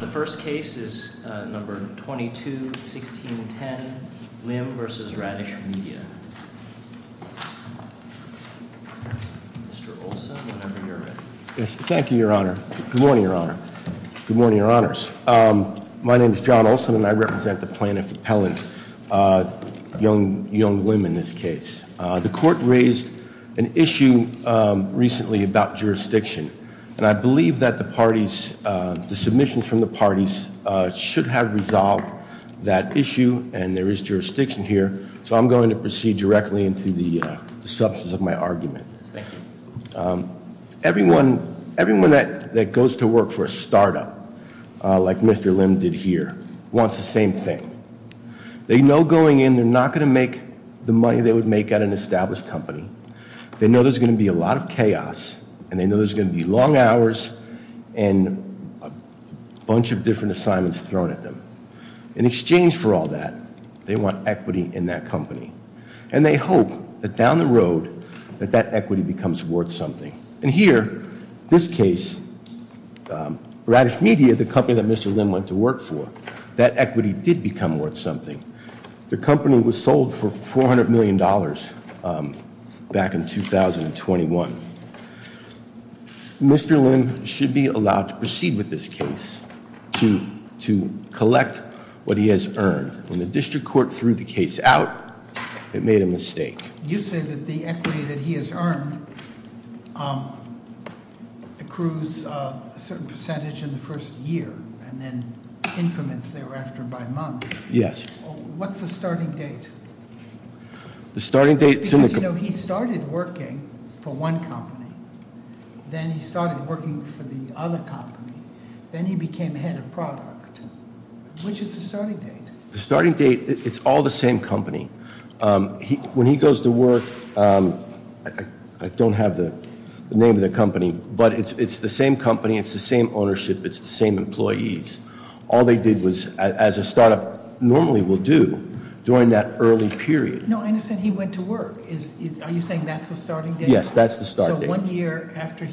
The first case is No. 22-1610, Lim v. Radish Media. Thank you, Your Honor. Good morning, Your Honor. Good morning, Your Honors. My name is John Olson, and I represent the plaintiff, Appellant Young-Lim, in this case. The court raised an issue recently about jurisdiction, and I believe that the parties, the submissions from the parties should have resolved that issue, and there is jurisdiction here, so I'm going to proceed directly into the substance of my argument. Everyone that goes to work for a startup, like Mr. Lim did here, wants the same thing. They know going in, they're not going to make the money they would make at an established company. They know there's going to be a lot of chaos, and they know there's going to be long hours and a bunch of different assignments thrown at them. In exchange for all that, they want equity in that company, and they hope that down the road that that equity becomes worth something, and here, this case, Radish Media, the company that Mr. Lim went to work for, that equity did become worth something. The company was sold for $400 million back in 2021. Mr. Lim should be allowed to proceed with this case to collect what he has earned. When the district court threw the case out, it made a mistake. You say that the equity that he has earned accrues a certain percentage in the first year, and then increments thereafter by month. Yes. What's the starting date? The starting date- Because he started working for one company. Then he started working for the other company. Then he became head of product. Which is the starting date? The starting date, it's all the same company. When he goes to work, I don't have the name of the company, but it's the same company, it's the same ownership, it's the same employees. All they did was, as a startup normally will do, during that early period- No, I understand he went to work. Are you saying that's the starting date? Yes, that's the starting date. One year after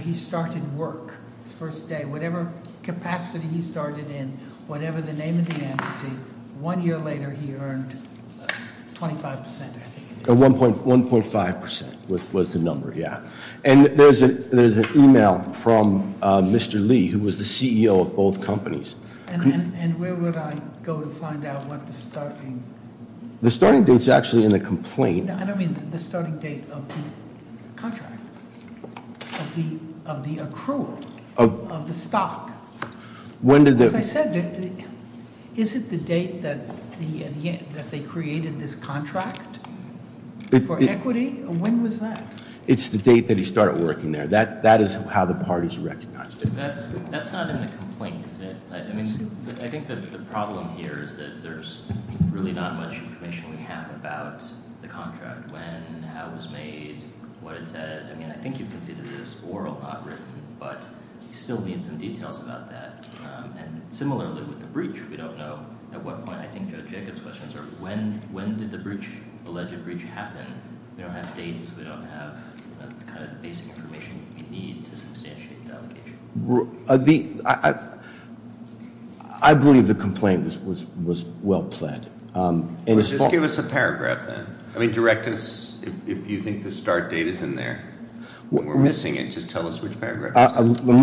he started work, his first day, whatever capacity he started in, whatever the name of the entity, one year later he earned 25%, I think. 1.5% was the number, yeah. And there's an email from Mr. Lee, who was the CEO of both companies. And where would I go to find out what the starting- The starting date's actually in the complaint. I don't mean the starting date of the contract, of the accrual, of the stock. When did the- As I said, is it the date that they created this contract for equity? When was that? It's the date that he started working there. That is how the parties recognized it. That's not in the complaint, is it? I think the problem here is that there's really not much information we have about the contract. When, how it was made, what it said. I mean, I think you can see that it is oral, not written. But you still need some details about that. And similarly with the breach, we don't know at what point. I think Judge Jacobs' questions are, when did the alleged breach happen? We don't have dates. We don't have the kind of basic information we need to substantiate the allegation. I believe the complaint was well-planned. Just give us a paragraph then. I mean, direct us if you think the start date is in there. If we're missing it, just tell us which paragraph it is. What I'm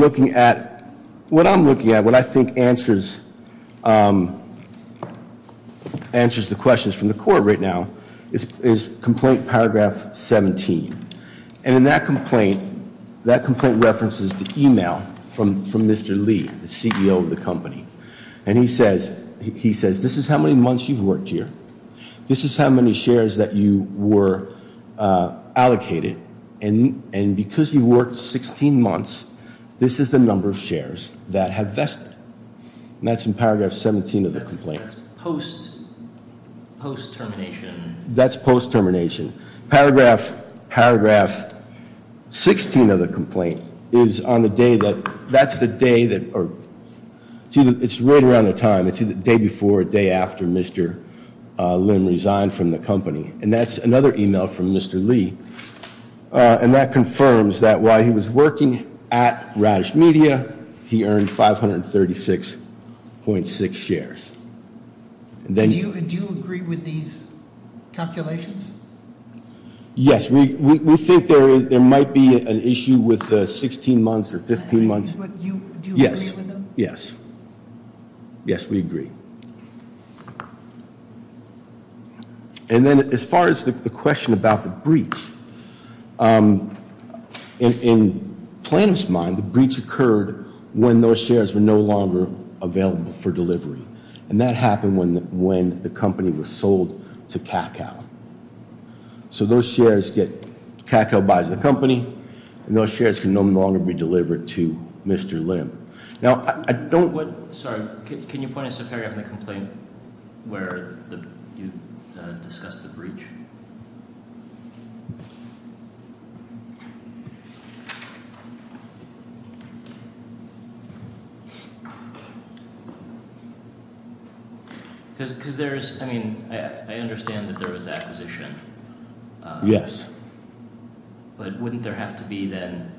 looking at, what I think answers the questions from the court right now, is complaint paragraph 17. And in that complaint, that complaint references the email from Mr. Lee, the CEO of the company. And he says, this is how many months you've worked here. This is how many shares that you were allocated. And because you worked 16 months, this is the number of shares that have vested. And that's in paragraph 17 of the complaint. That's post-termination. That's post-termination. Paragraph 16 of the complaint is on the day that, that's the day that, or it's right around the time. It's the day before or day after Mr. Lim resigned from the company. And that's another email from Mr. Lee. And that confirms that while he was working at Radish Media, he earned 536.6 shares. Do you agree with these calculations? Yes. We think there might be an issue with 16 months or 15 months. Do you agree with them? Yes. Yes, we agree. And then as far as the question about the breach. In Plano's mind, the breach occurred when those shares were no longer available for delivery. And that happened when the company was sold to Kakao. So those shares get, Kakao buys the company. And those shares can no longer be delivered to Mr. Lim. Now, I don't- Sorry, can you point us to paragraph in the complaint where you discuss the breach? Because there's, I mean, I understand that there was acquisition. Yes. But wouldn't there have to be then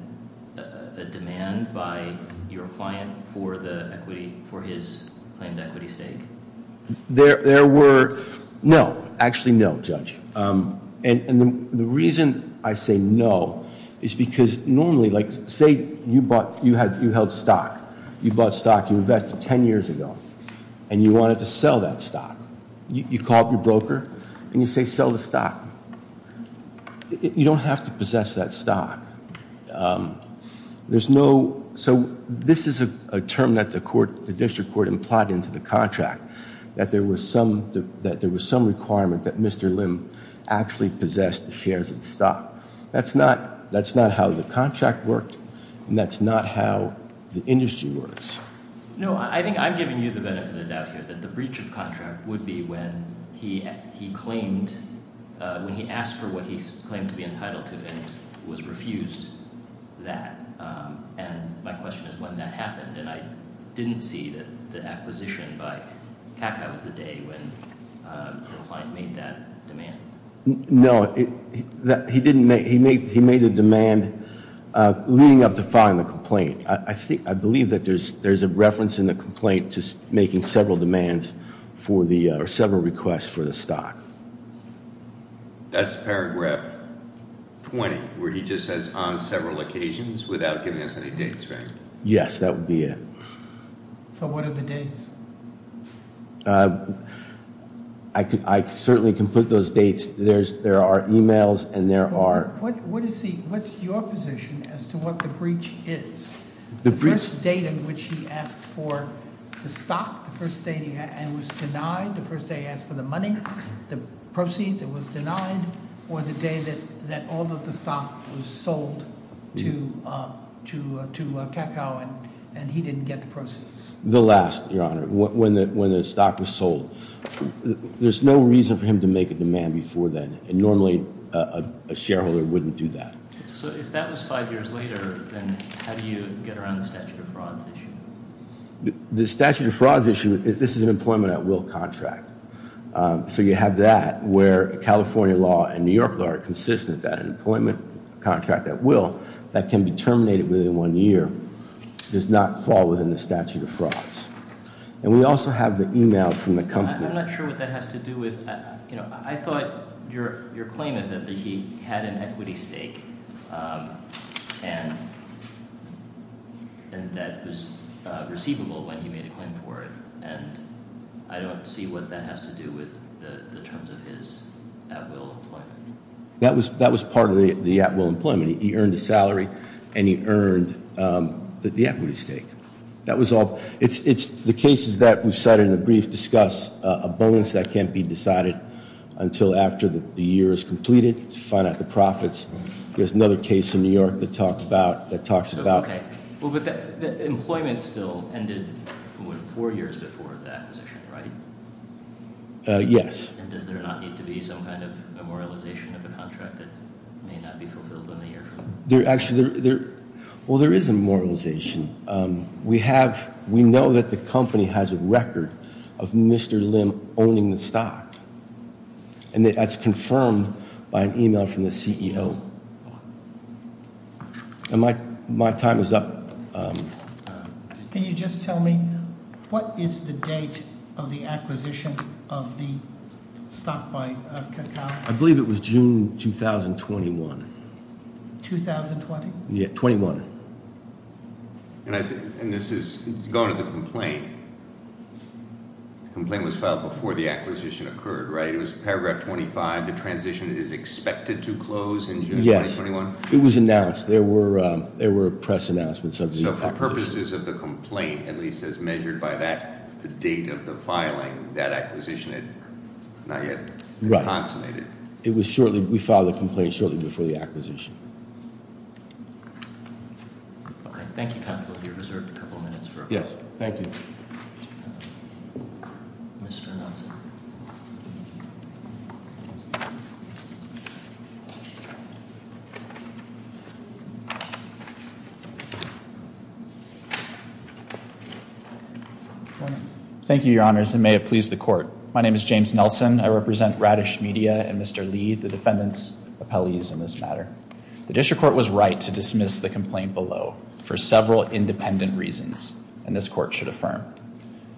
a demand by your client for the equity, for his claimed equity stake? There were, no. Actually, no, Judge. And the reason I say no is because normally, like, say you bought, you held stock. You bought stock, you invested 10 years ago. And you wanted to sell that stock. You call up your broker, and you say sell the stock. You don't have to possess that stock. There's no, so this is a term that the court, the district court implied into the contract. That there was some requirement that Mr. Lim actually possess the shares of the stock. That's not how the contract worked. And that's not how the industry works. No, I think I'm giving you the benefit of the doubt here. That the breach of contract would be when he claimed, when he asked for what he claimed to be entitled to. And was refused that. And my question is when that happened. And I didn't see that the acquisition by Kaka was the day when your client made that demand. No, he didn't make, he made the demand leading up to filing the complaint. I believe that there's a reference in the complaint to making several demands for the, or several requests for the stock. That's paragraph 20, where he just says on several occasions without giving us any dates, right? Yes, that would be it. So what are the dates? I certainly can put those dates, there are emails and there are. What's your position as to what the breach is? The first date in which he asked for the stock, the first date he was denied, the first day he asked for the money, the proceeds, it was denied. Or the day that all of the stock was sold to Kakao and he didn't get the proceeds. The last, your honor, when the stock was sold. There's no reason for him to make a demand before then. And normally a shareholder wouldn't do that. So if that was five years later, then how do you get around the statute of frauds issue? The statute of frauds issue, this is an employment at will contract. So you have that where California law and New York law are consistent that an employment contract at will, that can be terminated within one year, does not fall within the statute of frauds. And we also have the emails from the company. I'm not sure what that has to do with. I thought your claim is that he had an equity stake. And that was receivable when he made a claim for it. And I don't see what that has to do with the terms of his at will employment. That was part of the at will employment. He earned a salary and he earned the equity stake. That was all, it's the cases that we've cited in the brief discuss a bonus that can't be decided until after the year is completed to find out the profits. There's another case in New York that talks about- Okay. Well, but employment still ended four years before the acquisition, right? Yes. And does there not need to be some kind of memorialization of the contract that may not be fulfilled in a year? Well, there is a memorialization. We know that the company has a record of Mr. Lim owning the stock. And that's confirmed by an email from the CEO. And my time is up. Can you just tell me what is the date of the acquisition of the stock by Kakao? I believe it was June 2021. 2020? Yeah, 21. And this is going to the complaint. The complaint was filed before the acquisition occurred, right? It was paragraph 25. The transition is expected to close in June 2021? Yes. It was announced. There were press announcements of the acquisition. The purposes of the complaint, at least as measured by that, the date of the filing, that acquisition had not yet been consummated. Right. It was shortly-we filed the complaint shortly before the acquisition. Okay. Thank you, Counselor. You're reserved a couple minutes for a question. Yes. Thank you. Mr. Nelson. Thank you, Your Honors, and may it please the court. My name is James Nelson. I represent Radish Media and Mr. Lee, the defendant's appellees in this matter. The district court was right to dismiss the complaint below for several independent reasons, and this court should affirm.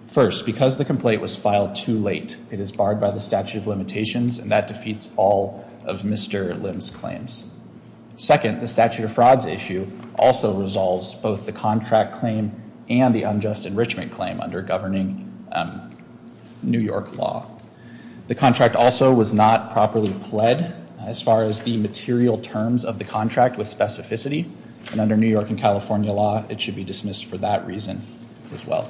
First, because the complaint was filed too late, it is barred by the statute of limitations, and that defeats all of Mr. Lim's claims. Second, the statute of frauds issue also resolves both the contract claim and the unjust enrichment claim under governing New York law. The contract also was not properly pled as far as the material terms of the contract with specificity, and under New York and California law, it should be dismissed for that reason as well.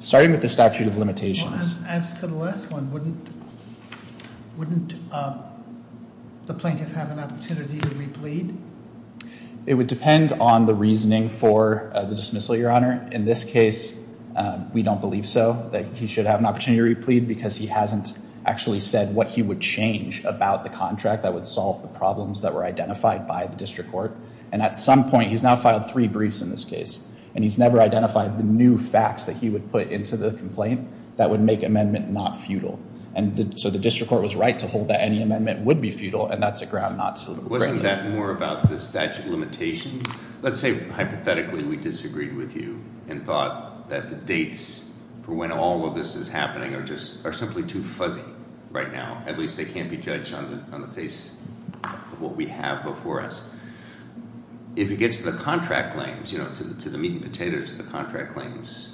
Starting with the statute of limitations. As to the last one, wouldn't the plaintiff have an opportunity to replead? It would depend on the reasoning for the dismissal, Your Honor. In this case, we don't believe so, that he should have an opportunity to replead because he hasn't actually said what he would change about the contract that would solve the problems that were identified by the district court. And at some point, he's now filed three briefs in this case, and he's never identified the new facts that he would put into the complaint that would make amendment not futile. And so the district court was right to hold that any amendment would be futile, and that's a ground not suitable. Wasn't that more about the statute of limitations? Let's say, hypothetically, we disagreed with you and thought that the dates for when all of this is happening are simply too fuzzy right now. At least they can't be judged on the face of what we have before us. If it gets to the contract claims, to the meat and potatoes of the contract claims,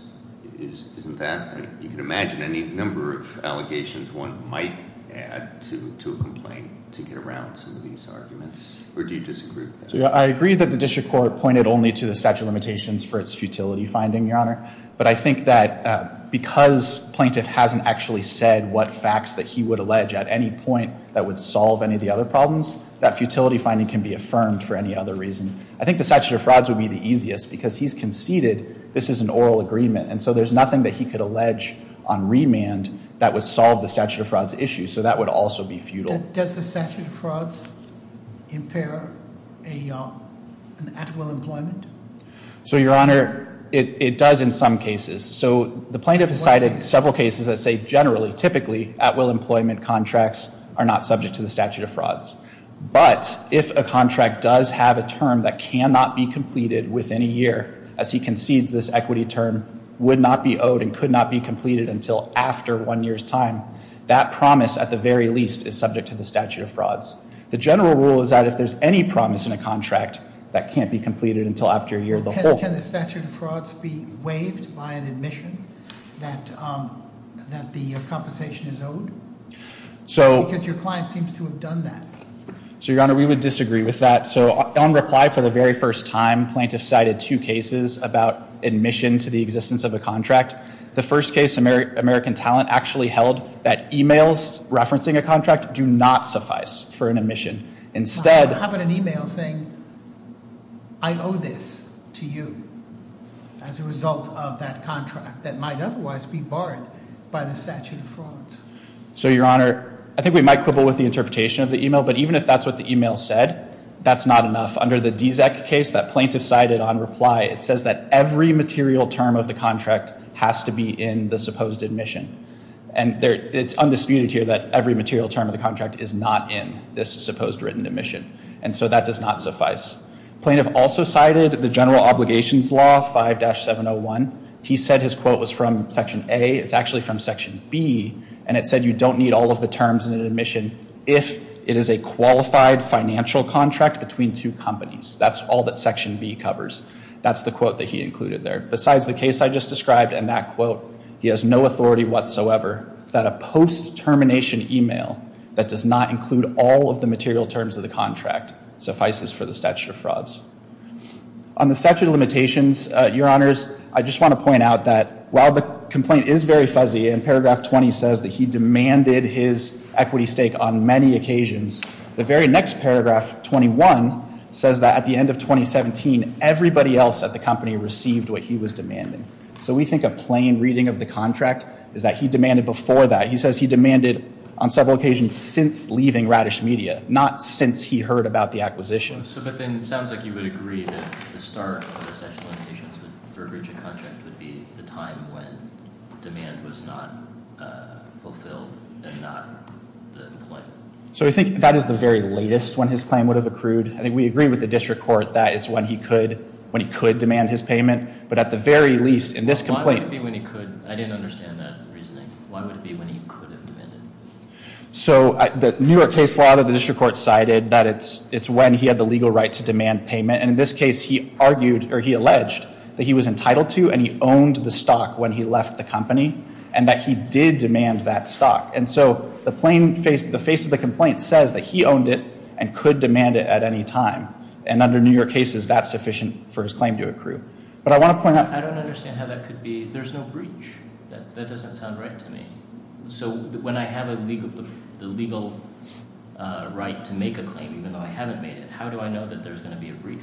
isn't that? You can imagine any number of allegations one might add to a complaint to get around some of these arguments. Or do you disagree with that? I agree that the district court pointed only to the statute of limitations for its futility finding, Your Honor. But I think that because plaintiff hasn't actually said what facts that he would allege at any point that would solve any of the other problems, that futility finding can be affirmed for any other reason. I think the statute of frauds would be the easiest, because he's conceded this is an oral agreement. And so there's nothing that he could allege on remand that would solve the statute of frauds issue. So that would also be futile. Does the statute of frauds impair an actual employment? So, Your Honor, it does in some cases. So the plaintiff has cited several cases that say generally, typically, at-will employment contracts are not subject to the statute of frauds. But if a contract does have a term that cannot be completed within a year, as he concedes this equity term would not be owed and could not be completed until after one year's time, that promise at the very least is subject to the statute of frauds. The general rule is that if there's any promise in a contract that can't be completed until after a year of the whole. Can the statute of frauds be waived by an admission that the compensation is owed? Because your client seems to have done that. So, Your Honor, we would disagree with that. So on reply for the very first time, plaintiff cited two cases about admission to the existence of a contract. The first case, American Talent, actually held that emails referencing a contract do not suffice for an admission. Instead. How about an email saying, I owe this to you as a result of that contract that might otherwise be barred by the statute of frauds? So, Your Honor, I think we might quibble with the interpretation of the email. But even if that's what the email said, that's not enough. Under the DZEC case that plaintiff cited on reply, it says that every material term of the contract has to be in the supposed admission. And it's undisputed here that every material term of the contract is not in this supposed written admission. And so that does not suffice. Plaintiff also cited the general obligations law, 5-701. He said his quote was from section A. It's actually from section B. And it said you don't need all of the terms in an admission if it is a qualified financial contract between two companies. That's all that section B covers. That's the quote that he included there. Besides the case I just described and that quote, he has no authority whatsoever that a post-termination email that does not include all of the material terms of the contract suffices for the statute of frauds. On the statute of limitations, Your Honors, I just want to point out that while the complaint is very fuzzy, and paragraph 20 says that he demanded his equity stake on many occasions, the very next paragraph, 21, says that at the end of 2017, everybody else at the company received what he was demanding. So we think a plain reading of the contract is that he demanded before that. He says he demanded on several occasions since leaving Radish Media, not since he heard about the acquisition. But then it sounds like you would agree that the start of the statute of limitations would be the time when demand was not fulfilled and not the point. So I think that is the very latest when his claim would have accrued. I think we agree with the district court that it's when he could demand his payment. But at the very least, in this complaint- Why would it be when he could? I didn't understand that reasoning. Why would it be when he could have demanded? So the New York case law that the district court cited, that it's when he had the legal right to demand payment. And in this case, he argued, or he alleged, that he was entitled to and he owned the stock when he left the company. And that he did demand that stock. And so the face of the complaint says that he owned it and could demand it at any time. And under New York cases, that's sufficient for his claim to accrue. But I want to point out- I don't understand how that could be. There's no breach. That doesn't sound right to me. So when I have the legal right to make a claim, even though I haven't made it, how do I know that there's going to be a breach?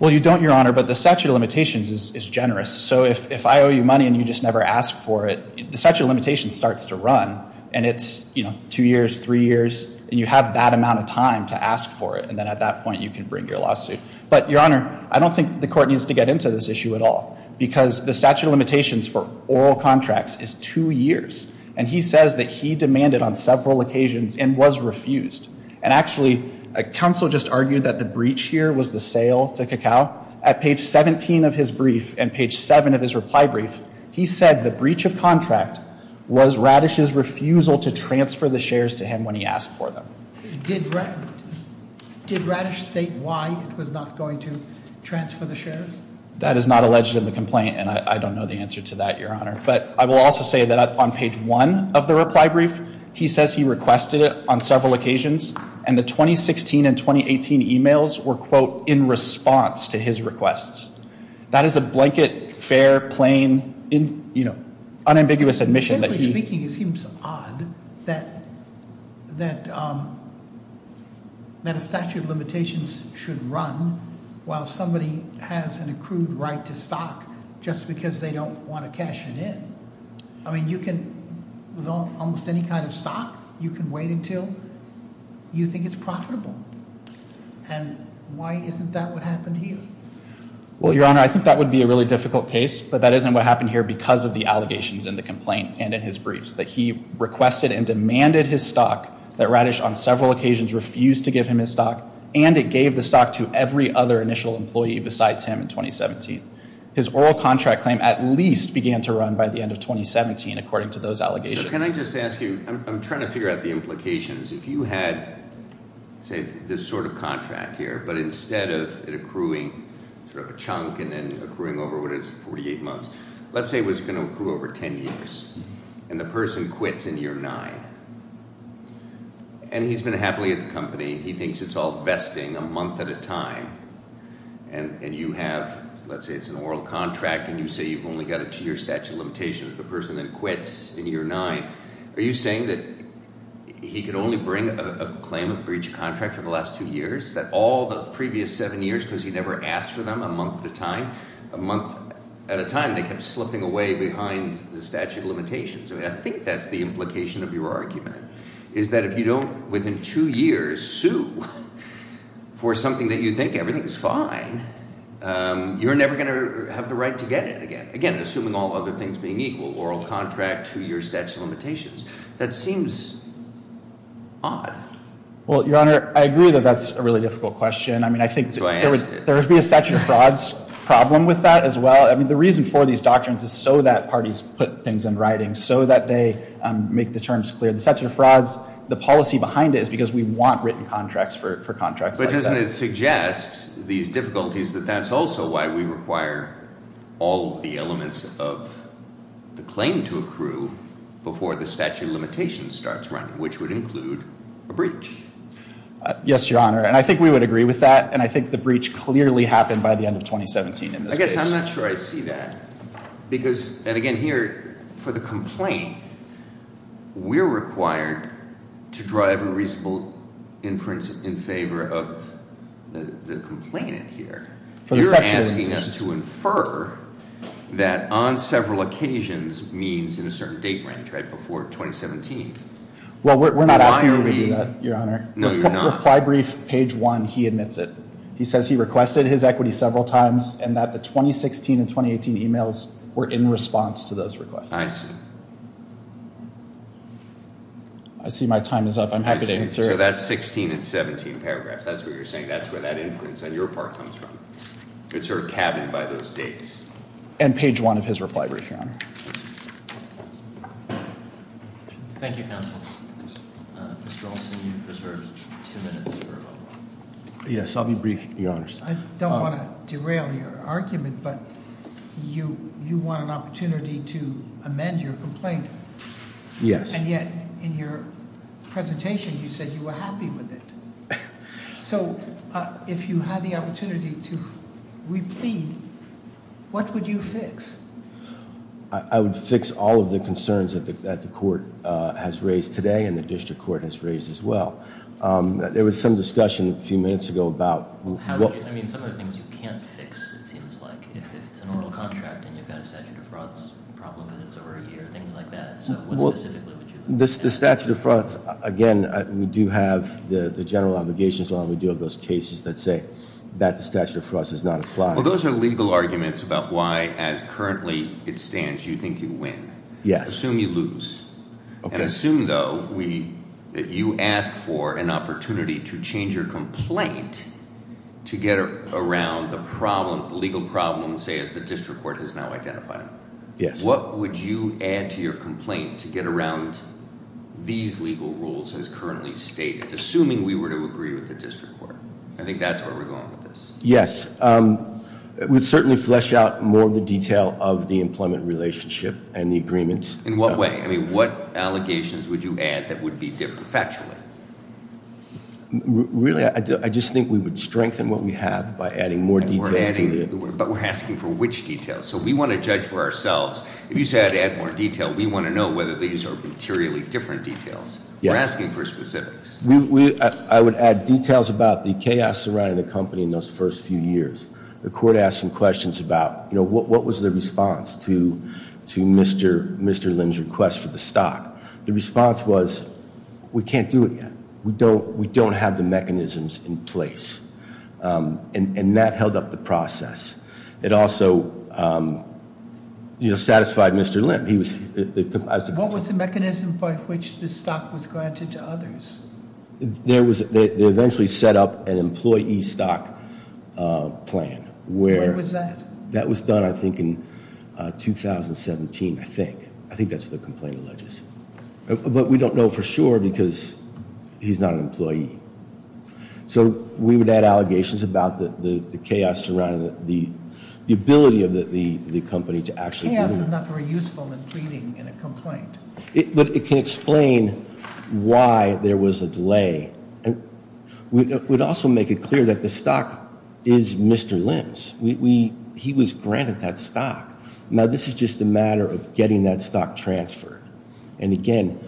Well, you don't, Your Honor. But the statute of limitations is generous. So if I owe you money and you just never ask for it, the statute of limitations starts to run. And it's two years, three years. And you have that amount of time to ask for it. And then at that point, you can bring your lawsuit. But, Your Honor, I don't think the court needs to get into this issue at all. Because the statute of limitations for oral contracts is two years. And he says that he demanded on several occasions and was refused. And actually, counsel just argued that the breach here was the sale to Cacao. At page 17 of his brief and page 7 of his reply brief, he said the breach of contract was Radish's refusal to transfer the shares to him when he asked for them. Did Radish state why he was not going to transfer the shares? That is not alleged in the complaint. And I don't know the answer to that, Your Honor. But I will also say that on page 1 of the reply brief, he says he requested it on several occasions. And the 2016 and 2018 emails were, quote, in response to his requests. That is a blanket, fair, plain, you know, unambiguous admission. Generally speaking, it seems odd that a statute of limitations should run while somebody has an accrued right to stock just because they don't want to cash it in. I mean, you can, with almost any kind of stock, you can wait until you think it's profitable. And why isn't that what happened here? Well, Your Honor, I think that would be a really difficult case. But that isn't what happened here because of the allegations in the complaint and in his briefs, that he requested and demanded his stock, that Radish on several occasions refused to give him his stock, and it gave the stock to every other initial employee besides him in 2017. His oral contract claim at least began to run by the end of 2017, according to those allegations. So can I just ask you, I'm trying to figure out the implications. If you had, say, this sort of contract here, but instead of it accruing sort of a chunk and then accruing over what is 48 months, let's say it was going to accrue over 10 years, and the person quits in year nine, and he's been happily at the company. He thinks it's all vesting, a month at a time, and you have, let's say it's an oral contract, and you say you've only got a two-year statute of limitations. The person then quits in year nine. Are you saying that he could only bring a claim of breach of contract for the last two years, that all those previous seven years because he never asked for them a month at a time, a month at a time they kept slipping away behind the statute of limitations? I think that's the implication of your argument, is that if you don't, within two years, sue for something that you think everything is fine, you're never going to have the right to get it again, assuming all other things being equal, oral contract, two-year statute of limitations. That seems odd. Well, Your Honor, I agree that that's a really difficult question. I mean, I think there would be a statute of frauds problem with that as well. I mean, the reason for these doctrines is so that parties put things in writing, so that they make the terms clear. The statute of frauds, the policy behind it is because we want written contracts for contracts like that. But doesn't it suggest these difficulties that that's also why we require all the elements of the claim to accrue before the statute of limitations starts running, which would include a breach? Yes, Your Honor, and I think we would agree with that, and I think the breach clearly happened by the end of 2017 in this case. I guess I'm not sure I see that. And again, here, for the complaint, we're required to draw every reasonable inference in favor of the complainant here. You're asking us to infer that on several occasions means in a certain date range, right before 2017. Well, we're not asking you to do that, Your Honor. No, you're not. In the reply brief, page one, he admits it. He says he requested his equity several times and that the 2016 and 2018 emails were in response to those requests. I see. I see my time is up. I'm happy to answer. So that's 16 and 17 paragraphs. That's what you're saying. That's where that inference on your part comes from. It's sort of cabined by those dates. And page one of his reply brief, Your Honor. Thank you, counsel. Mr. Olsen, you've reserved two minutes for rebuttal. Yes, I'll be brief, Your Honors. I don't want to derail your argument, but you want an opportunity to amend your complaint. Yes. And yet, in your presentation, you said you were happy with it. So if you had the opportunity to re-plead, what would you fix? I would fix all of the concerns that the court has raised today and the district court has raised as well. There was some discussion a few minutes ago about what- I mean, some of the things you can't fix, it seems like. If it's an oral contract and you've got a statute of frauds problem because it's over a year, things like that. So what specifically would you fix? The statute of frauds, again, we do have the general obligations law. We do have those cases that say that the statute of frauds does not apply. Well, those are legal arguments about why, as currently it stands, you think you win. Yes. Assume you lose. Okay. And assume, though, that you ask for an opportunity to change your complaint to get around the problem, the legal problem, say, as the district court has now identified. Yes. What would you add to your complaint to get around these legal rules as currently stated, assuming we were to agree with the district court? I think that's where we're going with this. Yes. We'd certainly flesh out more of the detail of the employment relationship and the agreements. In what way? I mean, what allegations would you add that would be different factually? Really, I just think we would strengthen what we have by adding more details to the- But we're asking for which details. So we want to judge for ourselves. If you said add more detail, we want to know whether these are materially different details. We're asking for specifics. I would add details about the chaos surrounding the company in those first few years. The court asked some questions about what was the response to Mr. Lim's request for the stock. The response was, we can't do it yet. We don't have the mechanisms in place. And that held up the process. It also satisfied Mr. Lim. What was the mechanism by which the stock was granted to others? They eventually set up an employee stock plan. When was that? That was done, I think, in 2017, I think. I think that's what the complaint alleges. But we don't know for sure because he's not an employee. So we would add allegations about the chaos surrounding the ability of the company to actually- This is not very useful in pleading in a complaint. But it can explain why there was a delay. It would also make it clear that the stock is Mr. Lim's. He was granted that stock. Now, this is just a matter of getting that stock transferred. And, again,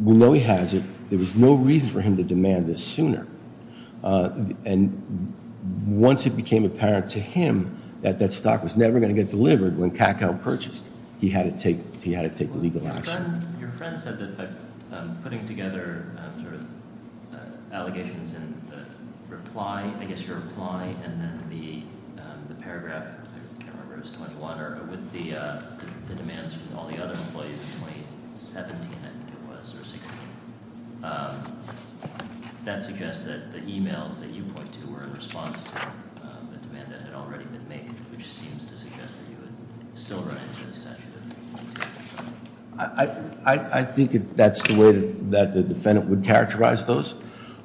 we know he has it. There was no reason for him to demand this sooner. And once it became apparent to him that that stock was never going to get delivered when Kakao purchased, he had to take legal action. Your friend said that putting together allegations in the reply, I guess your reply, and then the paragraph, I can't remember if it was 21, or with the demands from all the other employees in 2017, I think it was, or 16, that suggests that the emails that you point to were in response to a demand that had already been made, which seems to suggest that you would still run into a statute of limitations. I think that's the way that the defendant would characterize those.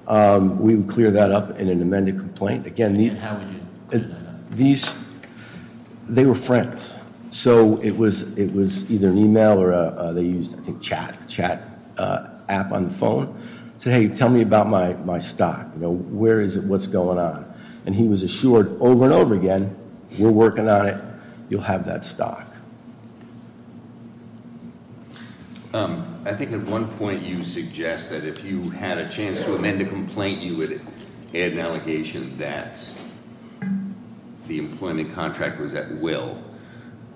We would clear that up in an amended complaint. And how would you clear that up? They were friends. So it was either an email or they used, I think, chat app on the phone. Say, hey, tell me about my stock. Where is it? What's going on? And he was assured over and over again, we're working on it. You'll have that stock. I think at one point you suggest that if you had a chance to amend a complaint, you would add an allegation that the employment contract was at will.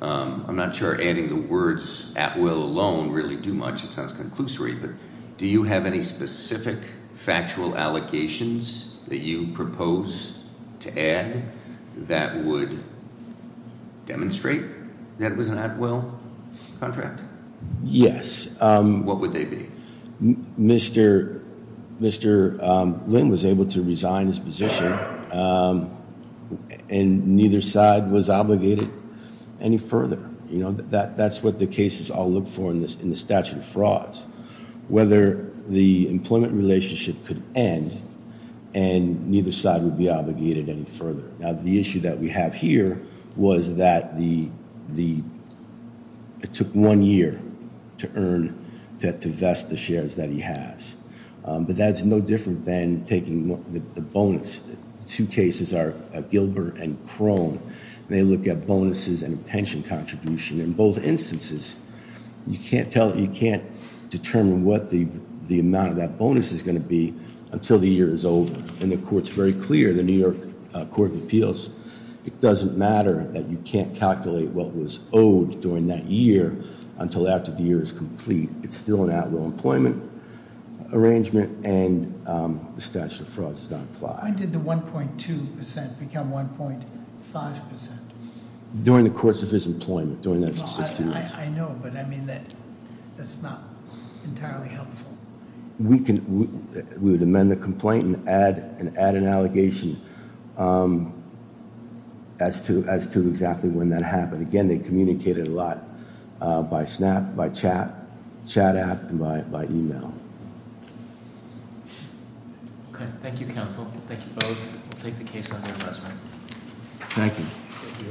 I'm not sure adding the words at will alone really do much. It sounds conclusory. Do you have any specific factual allegations that you propose to add that would demonstrate that it was an at will contract? Yes. What would they be? Mr. Lynn was able to resign his position, and neither side was obligated any further. That's what the cases all look for in the statute of frauds, whether the employment relationship could end, and neither side would be obligated any further. Now, the issue that we have here was that it took one year to earn, to vest the shares that he has. But that's no different than taking the bonus. The two cases are Gilbert and Crone, and they look at bonuses and pension contribution. In both instances, you can't determine what the amount of that bonus is going to be until the year is over. And the court's very clear, the New York Court of Appeals, it doesn't matter that you can't calculate what was owed during that year until after the year is complete. It's still an at will employment arrangement, and the statute of frauds does not apply. When did the 1.2% become 1.5%? During the course of his employment, during those 16 months. I know, but I mean that's not entirely helpful. We would amend the complaint and add an allegation as to exactly when that happened. Again, they communicated a lot by snap, by chat, chat app, and by email. Okay. Thank you, counsel. Thank you both. Take the case on your last night.